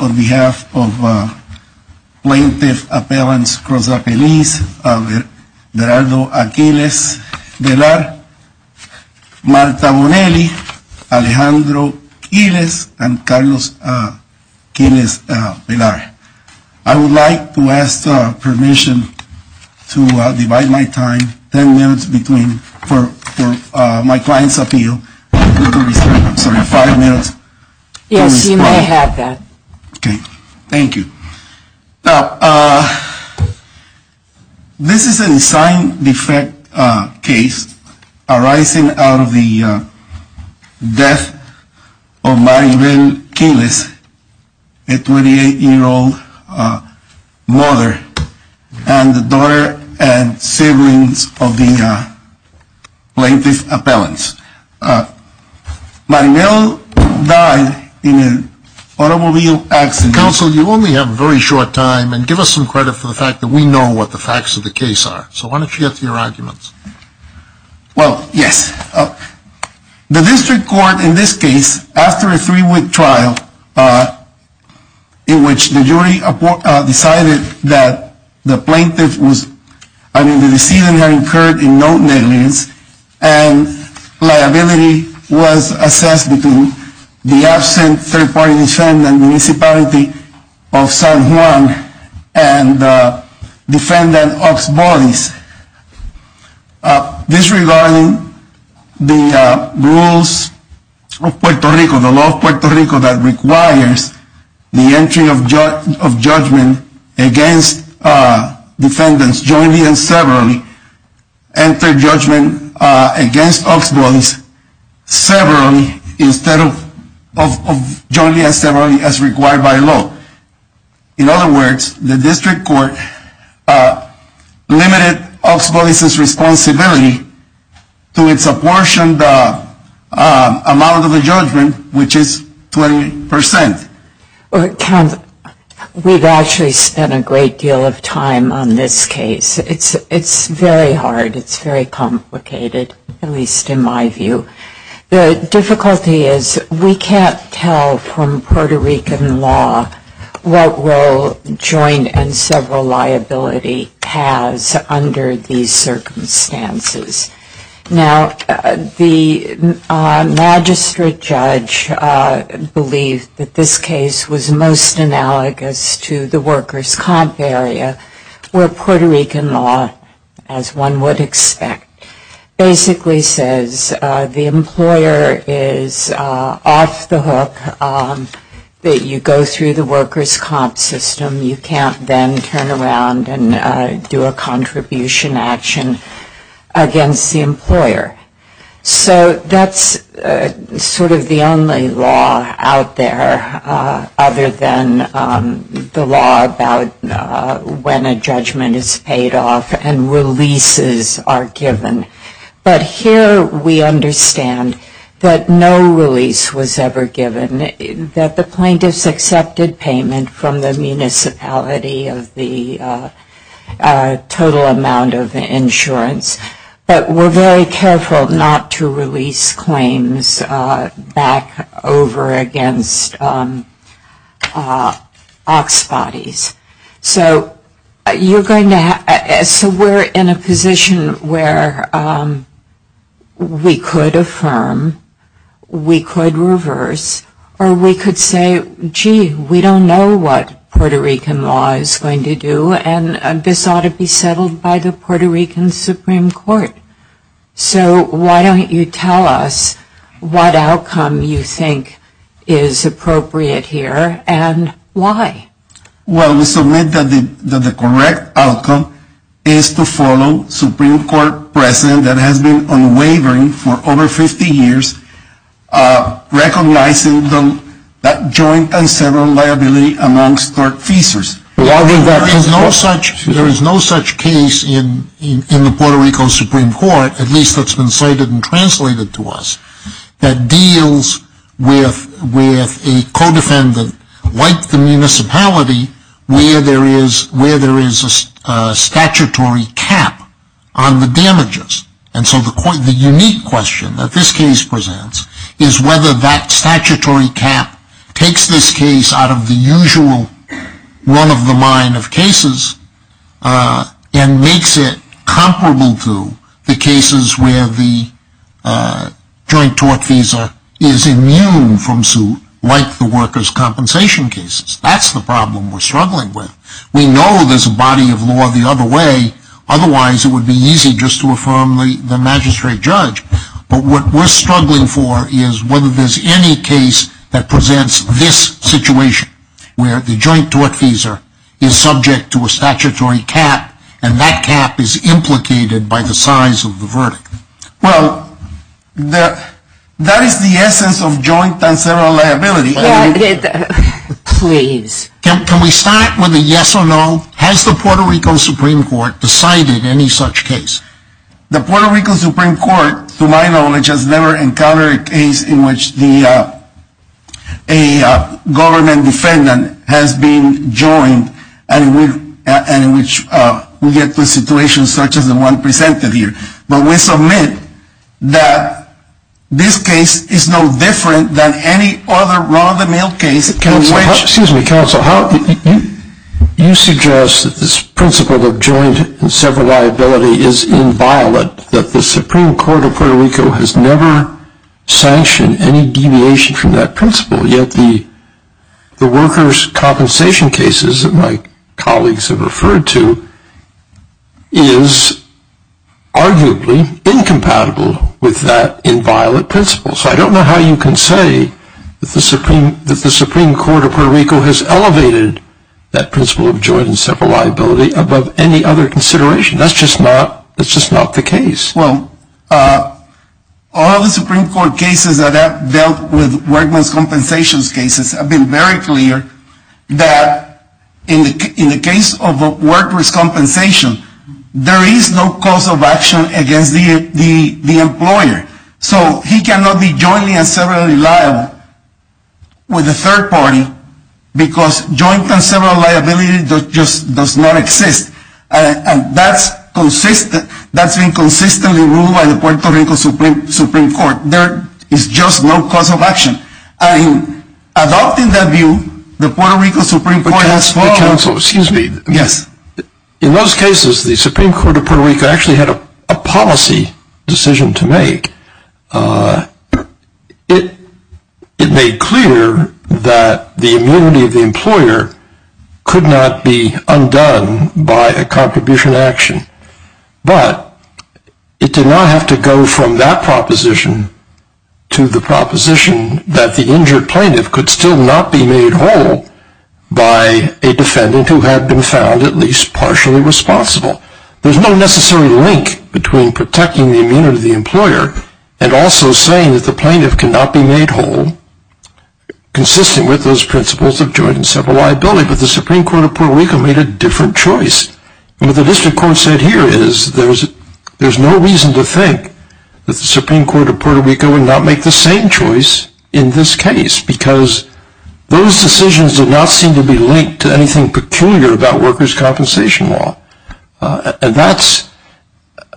On behalf of Plaintiff Appellants Cruz-Apeliz, Gerardo Aquiles-Velar, Marta Bonelli, Alejandro Quilez, and Carlos Quilez-Velar, I would like to ask permission to divide my time ten minutes between, for my client's appeal, five minutes. Yes, you may have that. Okay, thank you. Now, this is an assigned defect case arising out of the death of Maribel Quilez, a 28-year-old mother, and the daughter and siblings of the Plaintiff Appellants. Maribel died in an automobile accident. Counsel, you only have a very short time, and give us some credit for the fact that we know what the facts of the case are. So why don't you get to your arguments? Well, yes. The district court, in this case, after a three-week trial in which the jury decided that the plaintiff was, I mean, the decedent had incurred in no negligence, and liability was assessed between the absent third-party defendant, Municipality of San Juan, and the defendant, Ox Bodies. This regarding the rules of Puerto Rico, the law of Puerto Rico that requires the entry of judgment against defendants jointly and severally, entered judgment against Ox Bodies severally, instead of jointly and severally as required by law. In other words, the district court limited Ox Bodies' responsibility to its apportioned amount of the judgment, which is 20%. Counsel, we've actually spent a great deal of time on this case. It's very hard. It's very complicated, at least in my view. The difficulty is we can't tell from Puerto Rican law what role joint and several liability has under these circumstances. Now, the magistrate judge believed that this case was most analogous to the workers' comp area, where Puerto Rican law, as one would expect, basically says the employer is off the hook, that you go through the workers' comp system, you can't then turn around and do a contribution action against the employer. So that's sort of the only law out there other than the law about when a judgment is paid off and releases are given. But here we understand that no release was ever given, that the plaintiffs accepted payment from the municipality of the total amount of insurance, but were very careful not to release claims back over against Ox Bodies. So we're in a position where we could affirm, we could reverse, or we could say, gee, we don't know what Puerto Rican law is going to do, and this ought to be settled by the Puerto Rican Supreme Court. So why don't you tell us what outcome you think is appropriate here and why? Well, we submit that the correct outcome is to follow Supreme Court precedent that has been unwavering for over 50 years, recognizing that joint and several liability amongst our feasors. There is no such case in the Puerto Rico Supreme Court, at least that's been cited and translated to us, that deals with a co-defendant like the municipality where there is a statutory cap on the damages. And so the unique question that this case presents is whether that statutory cap takes this case out of the usual run-of-the-mine of cases and makes it comparable to the cases where the joint tort feasor is immune from suit like the workers' compensation cases. That's the problem we're struggling with. We know there's a body of law the other way, otherwise it would be easy just to affirm the magistrate judge. But what we're struggling for is whether there's any case that presents this situation, where the joint tort feasor is subject to a statutory cap and that cap is implicated by the size of the verdict. Well, that is the essence of joint and several liability. Can we start with a yes or no? Has the Puerto Rico Supreme Court decided any such case? The Puerto Rico Supreme Court, to my knowledge, has never encountered a case in which a government defendant has been joined and in which we get to a situation such as the one presented here. But we submit that this case is no different than any other run-of-the-mill case. Excuse me, counsel. You suggest that this principle of joint and several liability is inviolate, that the Supreme Court of Puerto Rico has never sanctioned any deviation from that principle, yet the workers' compensation cases that my colleagues have referred to is arguably incompatible with that inviolate principle. So I don't know how you can say that the Supreme Court of Puerto Rico has elevated that principle of joint and several liability above any other consideration. That's just not the case. Well, all the Supreme Court cases that have dealt with workers' compensation cases have been very clear that in the case of workers' compensation, there is no cause of action against the employer. So he cannot be jointly and severally liable with a third party because joint and several liability just does not exist. That's been consistently ruled by the Puerto Rico Supreme Court. There is just no cause of action. Adopting that view, the Puerto Rico Supreme Court has followed... Counsel, excuse me. Yes. In those cases, the Supreme Court of Puerto Rico actually had a policy decision to make. It made clear that the immunity of the employer could not be undone by a contribution action, but it did not have to go from that proposition to the proposition that the injured plaintiff could still not be made whole by a defendant who had been found at least partially responsible. There's no necessary link between protecting the immunity of the employer and also saying that the plaintiff cannot be made whole, consistent with those principles of joint and several liability, but the Supreme Court of Puerto Rico made a different choice. What the district court said here is there's no reason to think that the Supreme Court of Puerto Rico would not make the same choice in this case because those decisions did not seem to be linked to anything peculiar about workers' compensation law. And that at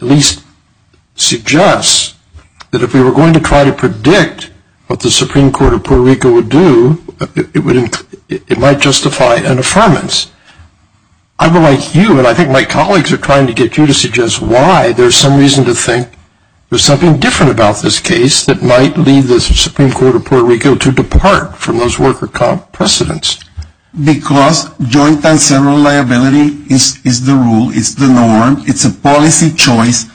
least suggests that if we were going to try to predict what the Supreme Court of Puerto Rico would do, it might justify an affirmance. I would like you, and I think my colleagues are trying to get you to suggest why there's some reason to think there's something different about this case that might lead the Supreme Court of Puerto Rico to depart from those worker comp precedents. Because joint and several liability is the rule, it's the norm, it's a policy choice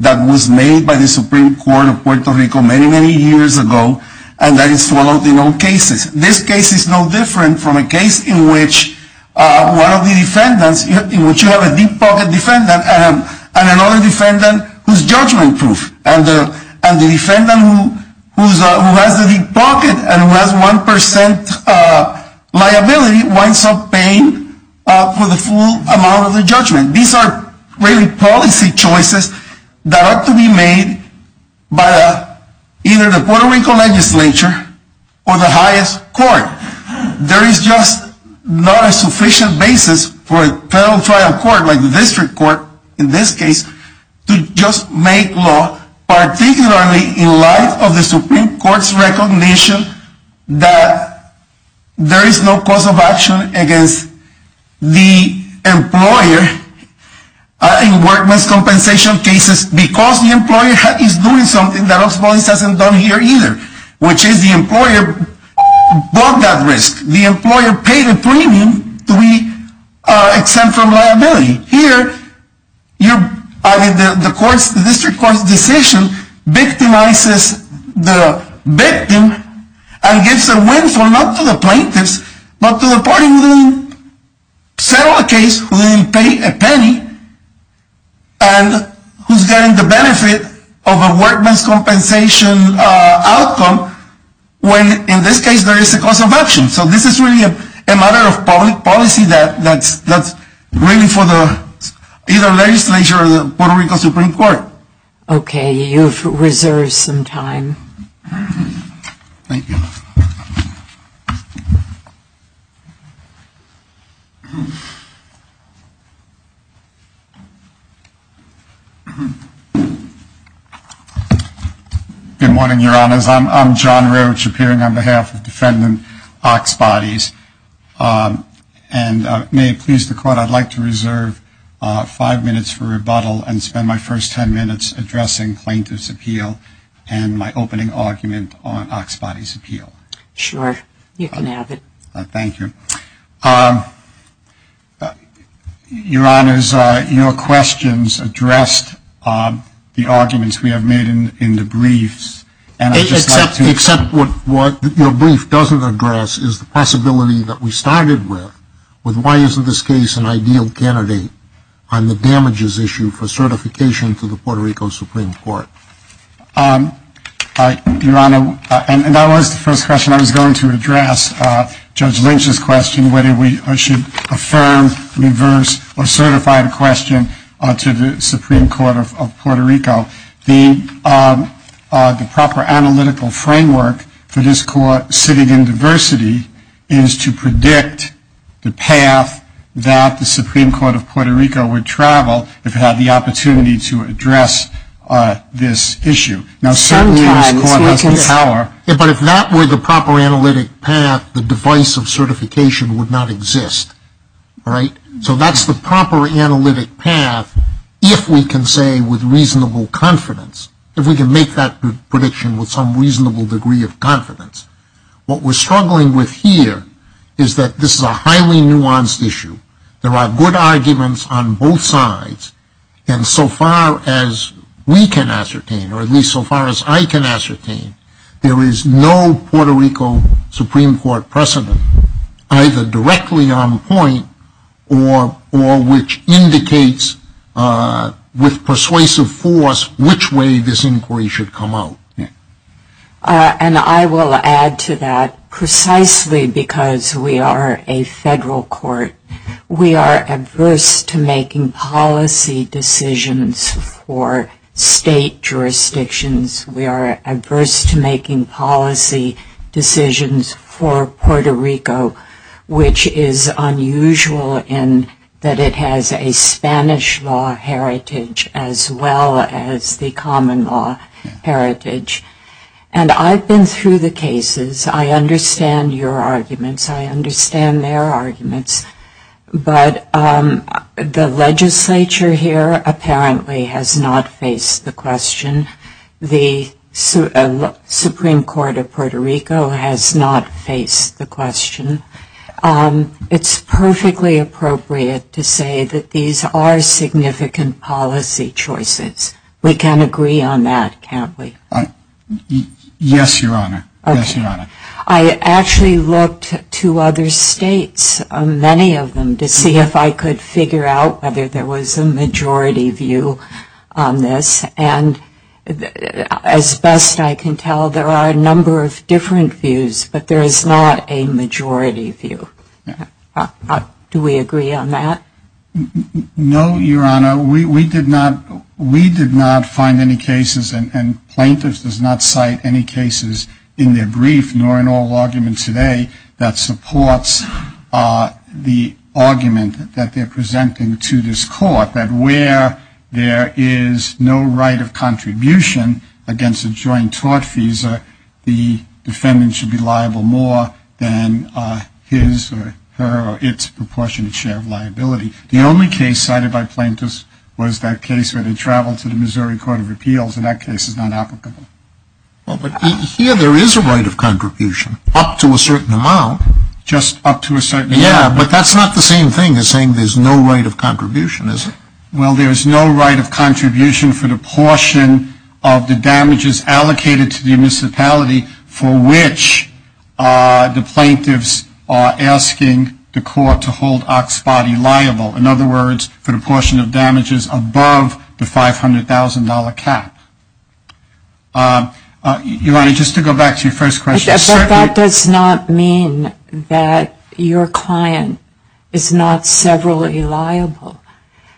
that was made by the Supreme Court of Puerto Rico many, many years ago, and that is followed in all cases. This case is no different from a case in which one of the defendants, in which you have a deep pocket defendant and another defendant who's judgment proof. And the defendant who has the deep pocket and who has 1% liability winds up paying for the full amount of the judgment. These are really policy choices that ought to be made by either the Puerto Rico legislature or the highest court. There is just not a sufficient basis for a federal trial court like the district court in this case to just make law, particularly in light of the Supreme Court's recognition that there is no cause of action against the employer in workman's compensation cases because the employer is doing something that Oxbowlis hasn't done here either, which is the employer bought that risk. The employer paid a premium to be exempt from liability. Here, the district court's decision victimizes the victim and gives a windfall not to the plaintiffs, but to the party who didn't settle the case, who didn't pay a penny, and who's getting the benefit of a workman's compensation outcome when, in this case, there is a cause of action. So this is really a matter of public policy that's really for either the legislature or the Puerto Rico Supreme Court. Okay, you've reserved some time. Thank you. Good morning, Your Honors. I'm John Roach, appearing on behalf of Defendant Oxbodys. And may it please the Court, I'd like to reserve five minutes for rebuttal and spend my first ten minutes addressing plaintiff's appeal and my opening argument on Oxbody's appeal. Sure, you can have it. Thank you. Your Honors, your questions addressed the arguments we have made in the briefs. Except what your brief doesn't address is the possibility that we started with, with why isn't this case an ideal candidate on the damages issue for certification to the Puerto Rico Supreme Court? Your Honor, and that was the first question I was going to address, Judge Lynch's question, whether we should affirm, reverse, or certify the question to the Supreme Court of Puerto Rico. The proper analytical framework for this court sitting in diversity is to predict the path that the Supreme Court of Puerto Rico would travel if it had the opportunity to address this issue. Now, certainly this court has the power. But if that were the proper analytic path, the device of certification would not exist, right? So that's the proper analytic path if we can say with reasonable confidence, if we can make that prediction with some reasonable degree of confidence. What we're struggling with here is that this is a highly nuanced issue. There are good arguments on both sides. And so far as we can ascertain, or at least so far as I can ascertain, there is no Puerto Rico Supreme Court precedent either directly on point or which indicates with persuasive force which way this inquiry should come out. And I will add to that, precisely because we are a federal court, we are adverse to making policy decisions for state jurisdictions. We are adverse to making policy decisions for Puerto Rico, which is unusual in that it has a Spanish law heritage as well as the common law heritage. And I've been through the cases. I understand your arguments. I understand their arguments. But the legislature here apparently has not faced the question. The Supreme Court of Puerto Rico has not faced the question. It's perfectly appropriate to say that these are significant policy choices. We can agree on that, can't we? Yes, Your Honor. I actually looked to other states, many of them, to see if I could figure out whether there was a majority view on this. And as best I can tell, there are a number of different views, but there is not a majority view. Do we agree on that? No, Your Honor. We did not find any cases, and plaintiffs does not cite any cases in their brief nor in all arguments today that supports the argument that they're presenting to this court, that where there is no right of contribution against a joint tort visa, the defendant should be liable more than his or her or its proportionate share of liability. The only case cited by plaintiffs was that case where they traveled to the Missouri Court of Appeals, and that case is not applicable. Well, but here there is a right of contribution up to a certain amount. Just up to a certain amount. Yeah, but that's not the same thing as saying there's no right of contribution, is it? Well, there is no right of contribution for the portion of the damages allocated to the municipality for which the plaintiffs are asking the court to hold Oxbody liable. In other words, for the portion of damages above the $500,000 cap. Your Honor, just to go back to your first question. But that does not mean that your client is not severally liable.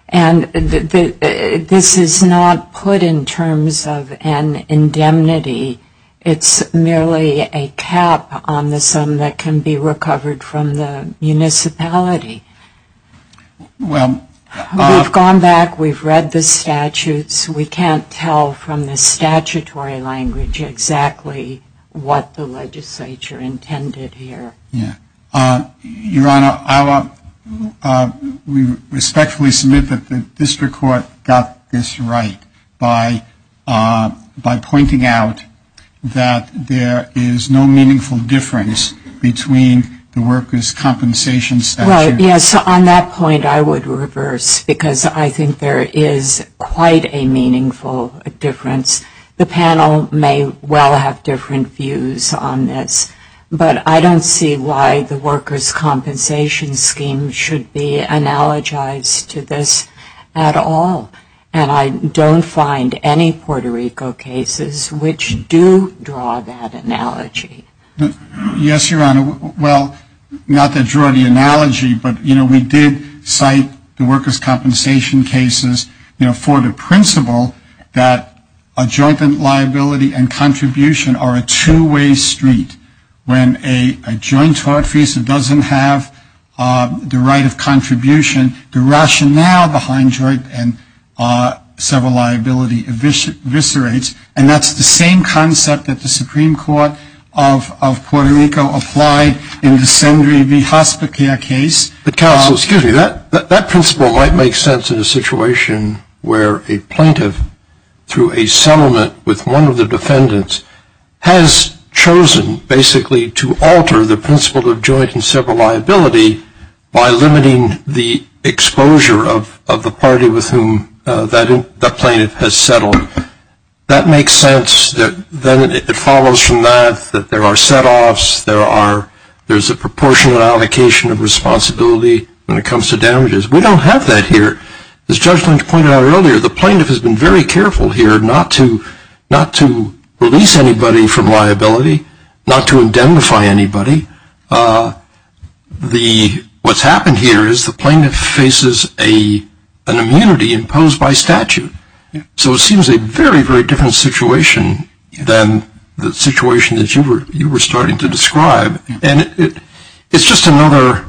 And this is not put in terms of an indemnity. It's merely a cap on the sum that can be recovered from the municipality. We've gone back, we've read the statutes. We can't tell from the statutory language exactly what the legislature intended here. Yeah. Your Honor, I will respectfully submit that the district court got this right by pointing out that there is no meaningful difference between the workers' compensation statute. Yes, on that point I would reverse, because I think there is quite a meaningful difference. The panel may well have different views on this. But I don't see why the workers' compensation scheme should be analogized to this at all. And I don't find any Puerto Rico cases which do draw that analogy. Yes, Your Honor. Well, not that draw the analogy, but we did cite the workers' compensation cases for the principle that a joint liability and contribution are a two-way street. When a joint tort fee doesn't have the right of contribution, the rationale behind joint and several liability eviscerates. And that's the same concept that the Supreme Court of Puerto Rico applied in the Sendry v. Hospica case. But, counsel, excuse me, that principle might make sense in a situation where a plaintiff, through a settlement with one of the defendants, has chosen basically to alter the principle of joint and several liability by limiting the exposure of the party with whom that plaintiff has settled. That makes sense. Then it follows from that that there are set-offs. There's a proportional allocation of responsibility when it comes to damages. We don't have that here. As Judge Lynch pointed out earlier, the plaintiff has been very careful here not to release anybody from liability, not to indemnify anybody. What's happened here is the plaintiff faces an immunity imposed by statute. So it seems a very, very different situation than the situation that you were starting to describe. And it's just another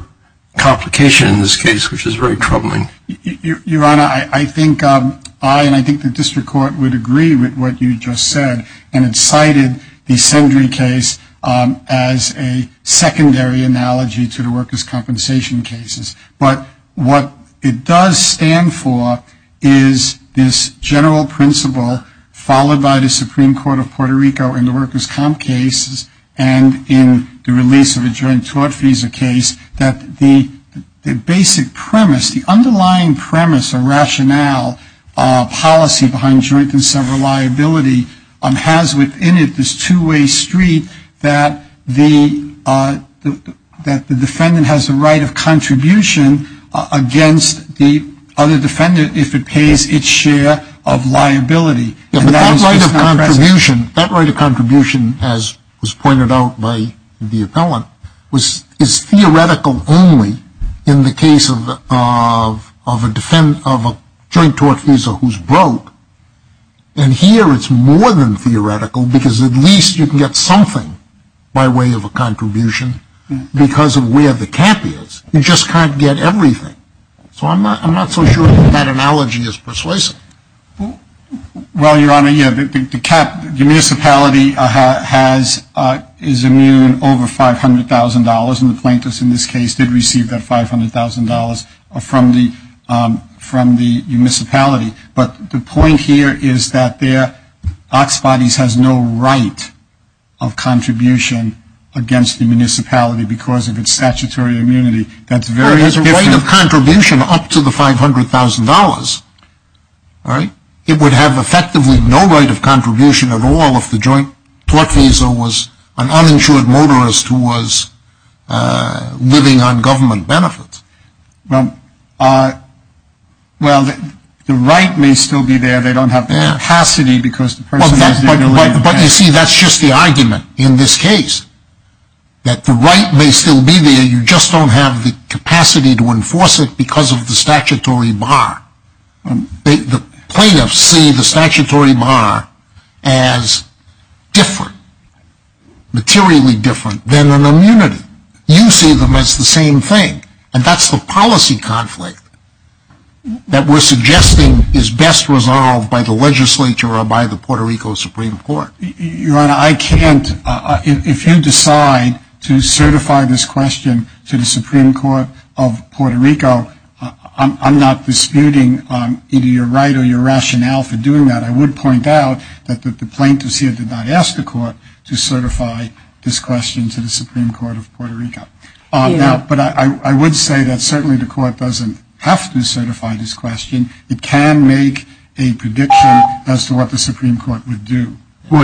complication in this case, which is very troubling. Your Honor, I think I and I think the district court would agree with what you just said and incited the Sendry case as a secondary analogy to the workers' compensation cases. But what it does stand for is this general principle, followed by the Supreme Court of Puerto Rico in the workers' comp cases and in the release of the joint tort visa case, that the basic premise, the underlying premise or rationale, policy behind joint and several liability has within it this two-way street that the defendant has a right of contribution against the other defendant if it pays its share of liability. That right of contribution, as was pointed out by the appellant, is theoretical only in the case of a joint tort visa who's broke. And here it's more than theoretical because at least you can get something by way of a contribution because of where the cap is. You just can't get everything. So I'm not so sure that analogy is persuasive. Well, Your Honor, yeah, the municipality is immune over $500,000 and the plaintiffs in this case did receive that $500,000 from the municipality. But the point here is that their Oxbodies has no right of contribution against the municipality because of its statutory immunity. It has a right of contribution up to the $500,000, right? It would have effectively no right of contribution at all if the joint tort visa was an uninsured motorist who was living on government benefits. Well, the right may still be there. They don't have the capacity because the person is doing it. But you see, that's just the argument in this case. That the right may still be there. You just don't have the capacity to enforce it because of the statutory bar. The plaintiffs see the statutory bar as different, materially different, than an immunity. You see them as the same thing. That's the policy conflict that we're suggesting is best resolved by the legislature or by the Puerto Rico Supreme Court. Your Honor, I can't, if you decide to certify this question to the Supreme Court of Puerto Rico, I'm not disputing either your right or your rationale for doing that. I would point out that the plaintiffs here did not ask the court But I would say that certainly the court doesn't have to certify this question. It can make a prediction as to what the Supreme Court would do. Well,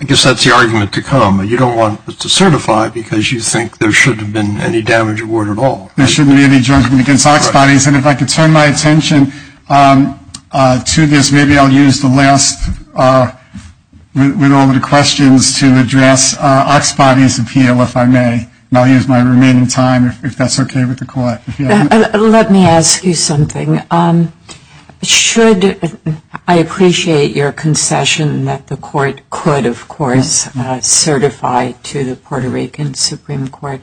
I guess that's the argument to come. You don't want to certify because you think there shouldn't have been any damage at all. There shouldn't be any judgment against Ox Bodies. And if I could turn my attention to this, maybe I'll use the last, with all the questions, to address Ox Body's appeal, if I may. And I'll use my remaining time, if that's okay with the court. Let me ask you something. Should, I appreciate your concession that the court could, of course, certify to the Puerto Rican Supreme Court.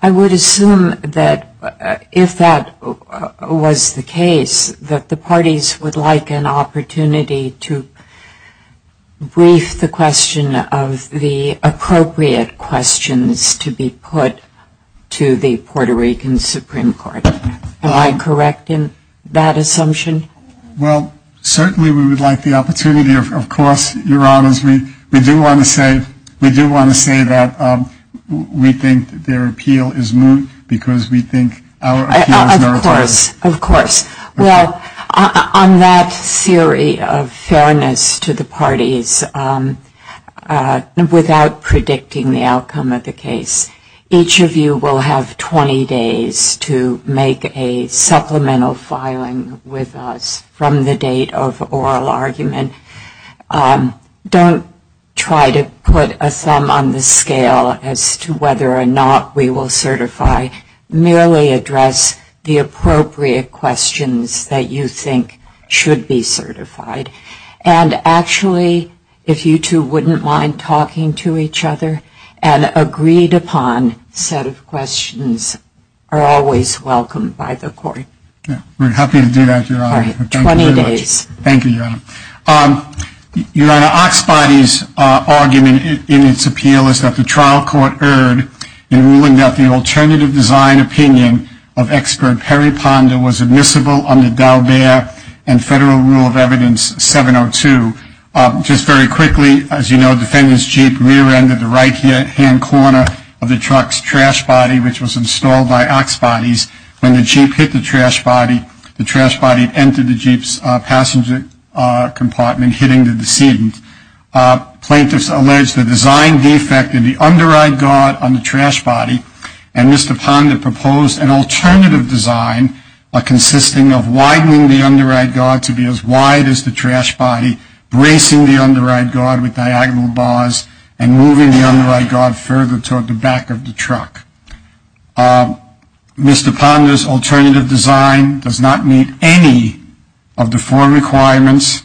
I would assume that if that was the case, that the parties would like an opportunity to brief the question of the appropriate questions to be put to the Puerto Rican Supreme Court. Am I correct in that assumption? Well, certainly we would like the opportunity. Of course, Your Honors, we do want to say that we think their appeal is moot because we think our appeal is not recorded. Of course, of course. Well, on that theory of fairness to the parties, without predicting the outcome of the case, each of you will have 20 days to make a supplemental filing with us from the date of oral argument. Don't try to put a thumb on the scale as to whether or not we will certify. Merely address the appropriate questions that you think should be certified. And actually, if you two wouldn't mind talking to each other, an agreed-upon set of questions are always welcomed by the court. We're happy to do that, Your Honor. 20 days. Thank you, Your Honor. Your Honor, Oxbody's argument in its appeal is that the trial court erred in ruling that the alternative design opinion of expert Perry Ponder was admissible under Daubert and Federal Rule of Evidence 702. Just very quickly, as you know, defendant's jeep rear-ended the right-hand corner of the truck's trash body, which was installed by Oxbody's. When the jeep hit the trash body, the trash body entered the jeep's passenger compartment, hitting the decedent. Plaintiffs allege the design defect in the underride guard on the trash body, and Mr. Ponder proposed an alternative design consisting of widening the underride guard to be as wide as the trash body, bracing the underride guard with diagonal bars, and moving the underride guard further toward the back of the truck. Mr. Ponder's alternative design does not meet any of the four requirements,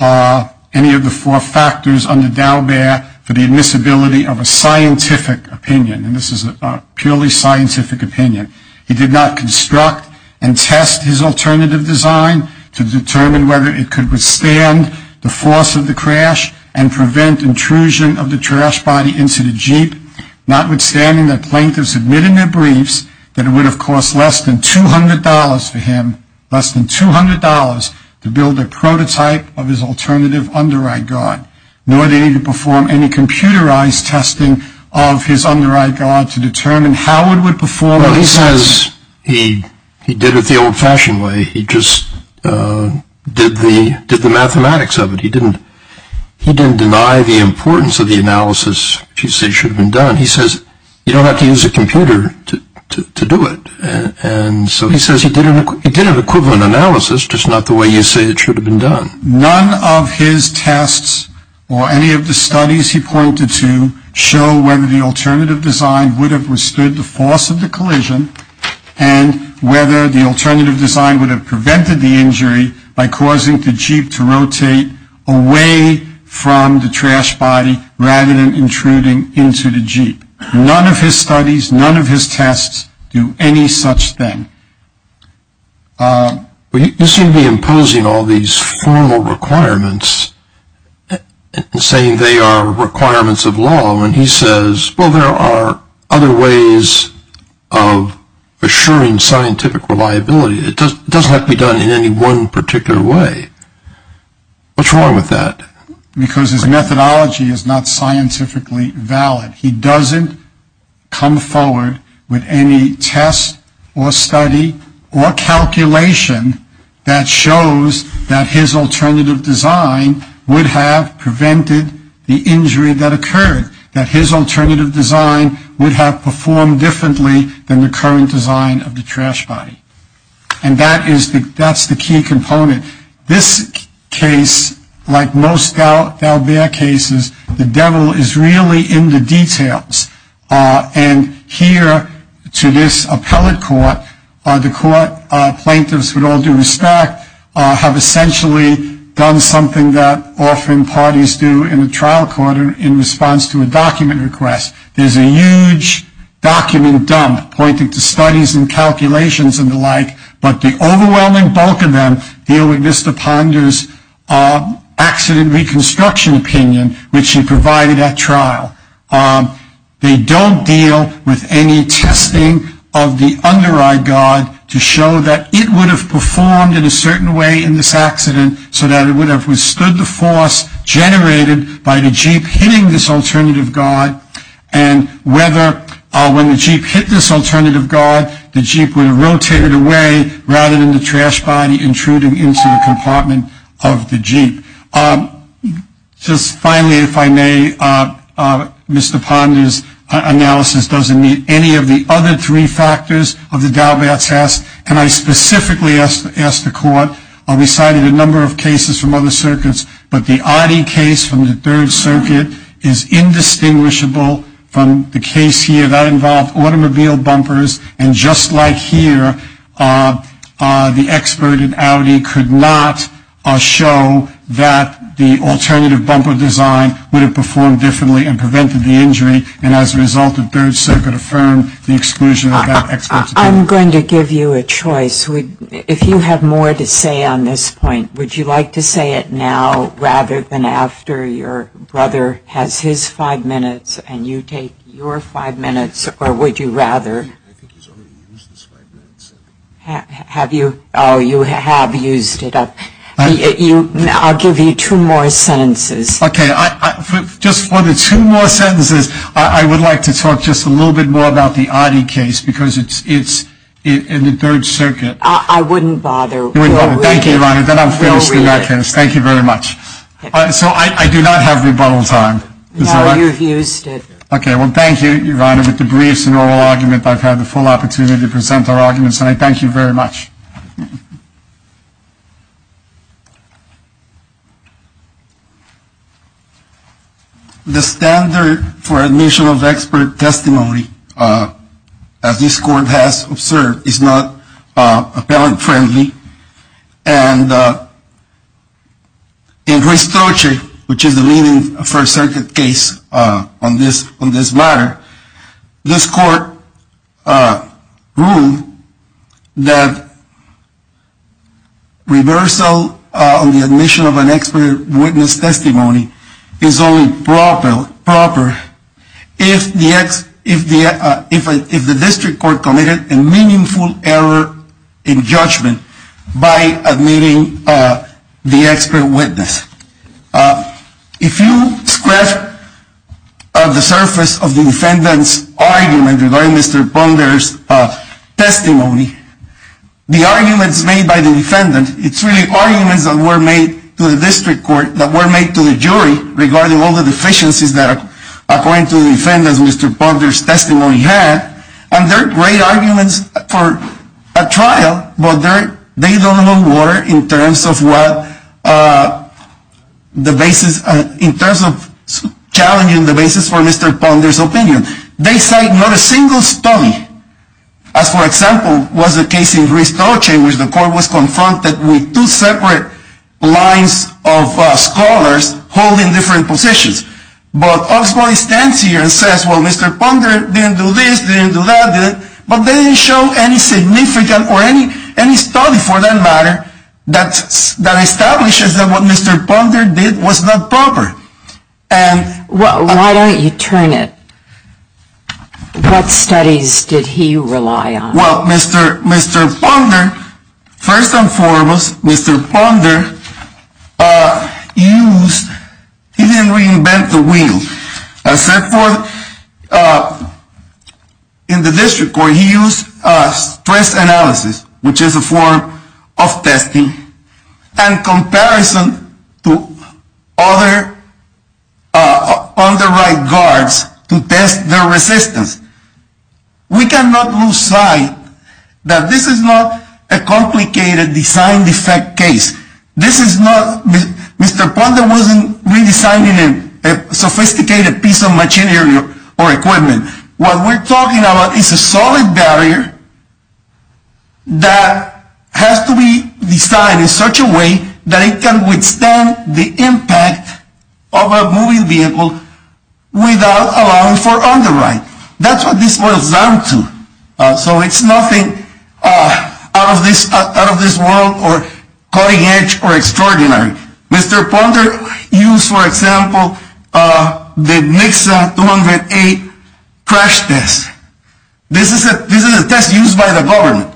any of the four factors under Daubert for the admissibility of a scientific opinion, and this is a purely scientific opinion. He did not construct and test his alternative design to determine whether it could withstand the force of the crash and prevent intrusion of the trash body into the jeep, notwithstanding that plaintiffs admitted in their briefs that it would have cost less than $200 for him, less than $200 to build a prototype of his alternative underride guard, nor did he perform any computerized testing of his underride guard to determine how it would perform. Well, he says he did it the old-fashioned way. He just did the mathematics of it. He didn't deny the importance of the analysis, which you see should have been done. He says you don't have to use a computer to do it, and so he says he did an equivalent analysis, just not the way you say it should have been done. None of his tests or any of the studies he pointed to show whether the alternative design would have withstood the force of the collision and whether the alternative design would have prevented the injury by causing the jeep to rotate away from the trash body rather than intruding into the jeep. None of his studies, none of his tests do any such thing. Well, you seem to be imposing all these formal requirements and saying they are requirements of law, and he says, well, there are other ways of assuring scientific reliability. It doesn't have to be done in any one particular way. What's wrong with that? Because his methodology is not scientifically valid. He doesn't come forward with any test or study or calculation that shows that his alternative design would have prevented the injury that occurred, that his alternative design would have performed differently than the current design of the trash body. And that is the key component. This case, like most Dalbert cases, the devil is really in the details. And here to this appellate court, the court plaintiffs, with all due respect, have essentially done something that often parties do in a trial court in response to a document request. There's a huge document dump pointing to studies and calculations and the like, but the overwhelming bulk of them deal with Mr. Ponder's accident reconstruction opinion, which he provided at trial. They don't deal with any testing of the under-eye guard to show that it would have performed in a certain way in this accident so that it would have withstood the force generated by the jeep hitting this alternative guard and whether when the jeep hit this alternative guard, the jeep would have rotated away rather than the trash body intruding into the compartment of the jeep. Just finally, if I may, Mr. Ponder's analysis doesn't meet any of the other three factors of the Dalbert test, and I specifically asked the court. We cited a number of cases from other circuits, but the Audi case from the Third Circuit is indistinguishable from the case here. That involved automobile bumpers, and just like here, the expert in Audi could not show that the alternative bumper design would have performed differently and prevented the injury, and as a result, the Third Circuit affirmed the exclusion of that expert's opinion. I'm going to give you a choice. If you have more to say on this point, would you like to say it now rather than after your brother has his five minutes and you take your five minutes, or would you rather... I think he's already used his five minutes. Have you? Oh, you have used it. I'll give you two more sentences. Okay, just for the two more sentences, I would like to talk just a little bit more about the Audi case because it's in the Third Circuit. I wouldn't bother. Thank you, Your Honor. Then I'm finished in that case. Thank you very much. So I do not have rebuttal time. No, you've used it. Okay, well, thank you, Your Honor. And I thank you very much. The standard for admission of expert testimony, as this Court has observed, is not appellant-friendly. And in Restroche, which is the leading First Circuit case on this matter, this Court ruled that reversal on the admission of an expert witness testimony is only proper if the district court committed a meaningful error in judgment by admitting the expert witness. If you scratch the surface of the defendant's argument regarding Mr. Ponder's testimony, the arguments made by the defendant, it's really arguments that were made to the district court, that were made to the jury regarding all the deficiencies that, according to the defendant, Mr. Ponder's testimony had, and they're great arguments for a trial, but they don't hold water in terms of challenging the basis for Mr. Ponder's opinion. They cite not a single study, as, for example, was the case in Restroche, in which the Court was confronted with two separate lines of scholars holding different positions. But Oxbody stands here and says, well, Mr. Ponder didn't do this, didn't do that, but they didn't show any significant or any study for that matter that establishes that what Mr. Ponder did was not proper. Why don't you turn it? What studies did he rely on? Well, Mr. Ponder, first and foremost, Mr. Ponder used, he didn't reinvent the wheel. Except for, in the district court, he used stress analysis, which is a form of testing, in comparison to other on-the-right guards to test their resistance. We cannot lose sight that this is not a complicated design defect case. Mr. Ponder wasn't redesigning a sophisticated piece of machinery or equipment. What we're talking about is a solid barrier that has to be designed in such a way that it can withstand the impact of a moving vehicle without allowing for on-the-right. That's what this boils down to. So it's nothing out of this world or cutting-edge or extraordinary. Mr. Ponder used, for example, the Nixa 208 crash test. This is a test used by the government.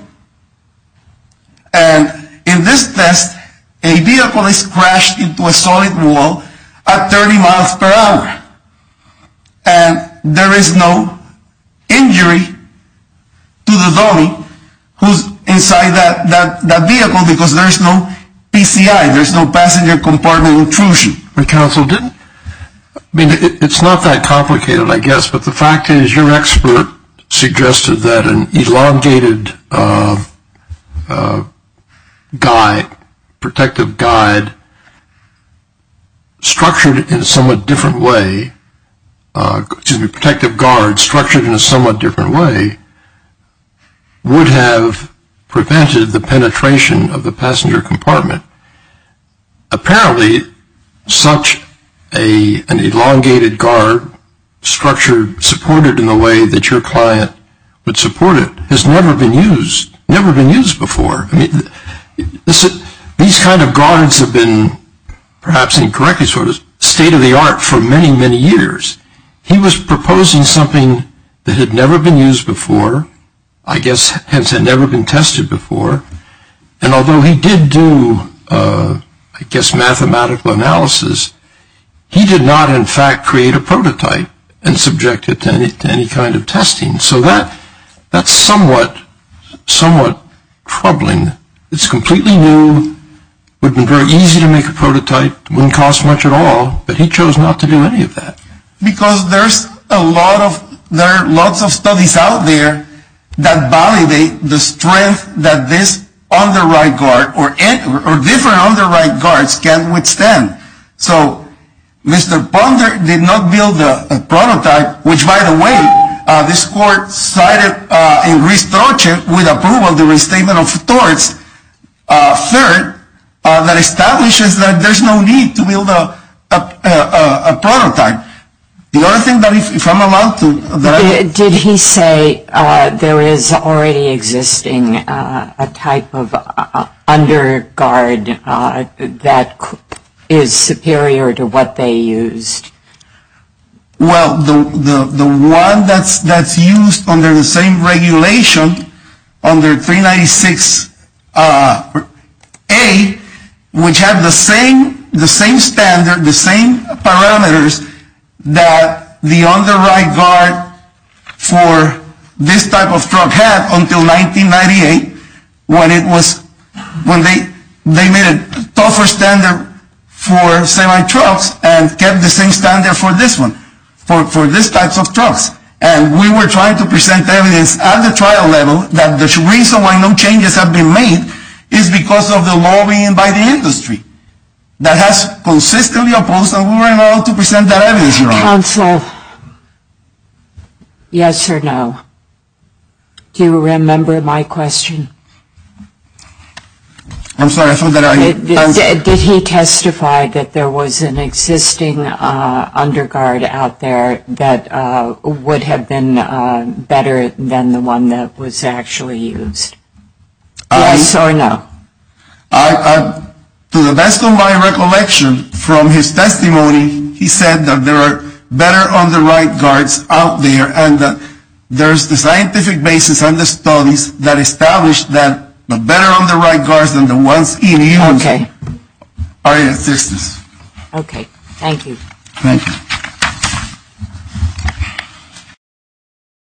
And in this test, a vehicle is crashed into a solid wall at 30 miles per hour. And there is no injury to the dummy who's inside that vehicle because there is no PCI, there's no passenger compartment intrusion. The council didn't, I mean, it's not that complicated, I guess, but the fact is your expert suggested that an elongated protective guard structured in a somewhat different way would have prevented the penetration of the passenger compartment. Apparently, such an elongated guard structured, supported in the way that your client would support it, has never been used before. These kind of guards have been, perhaps incorrectly so, state-of-the-art for many, many years. He was proposing something that had never been used before, I guess, hence had never been tested before. And although he did do, I guess, mathematical analysis, he did not, in fact, create a prototype and subject it to any kind of testing. So that's somewhat troubling. It's completely new, would have been very easy to make a prototype, wouldn't cost much at all, but he chose not to do any of that. Because there's a lot of, there are lots of studies out there that validate the strength that this underwrite guard, or different underwrite guards can withstand. So, Mr. Ponder did not build a prototype, which by the way, this court cited a restructure with approval of the restatement of torts, third, that establishes that there's no need to build a prototype. The other thing that if I'm allowed to, that I... Did he say there is already existing a type of underguard that is superior to what they used? Well, the one that's used under the same regulation, under 396A, which had the same standard, the same parameters that the underwrite guard for this type of truck had until 1998, when it was, when they made a tougher standard for semi-trucks and kept the same standard for this one, for these types of trucks. And we were trying to present evidence at the trial level that the reason why no changes have been made is because of the lobbying by the industry. That has consistently opposed, and we were not able to present that evidence, Your Honor. Counsel, yes or no? Do you remember my question? I'm sorry, I thought that I... Did he testify that there was an existing underguard out there that would have been better than the one that was actually used? Yes or no? To the best of my recollection from his testimony, he said that there are better underwrite guards out there and that there's the scientific basis and the studies that establish that the better underwrite guards than the ones in use are in existence. Okay, thank you. Thank you.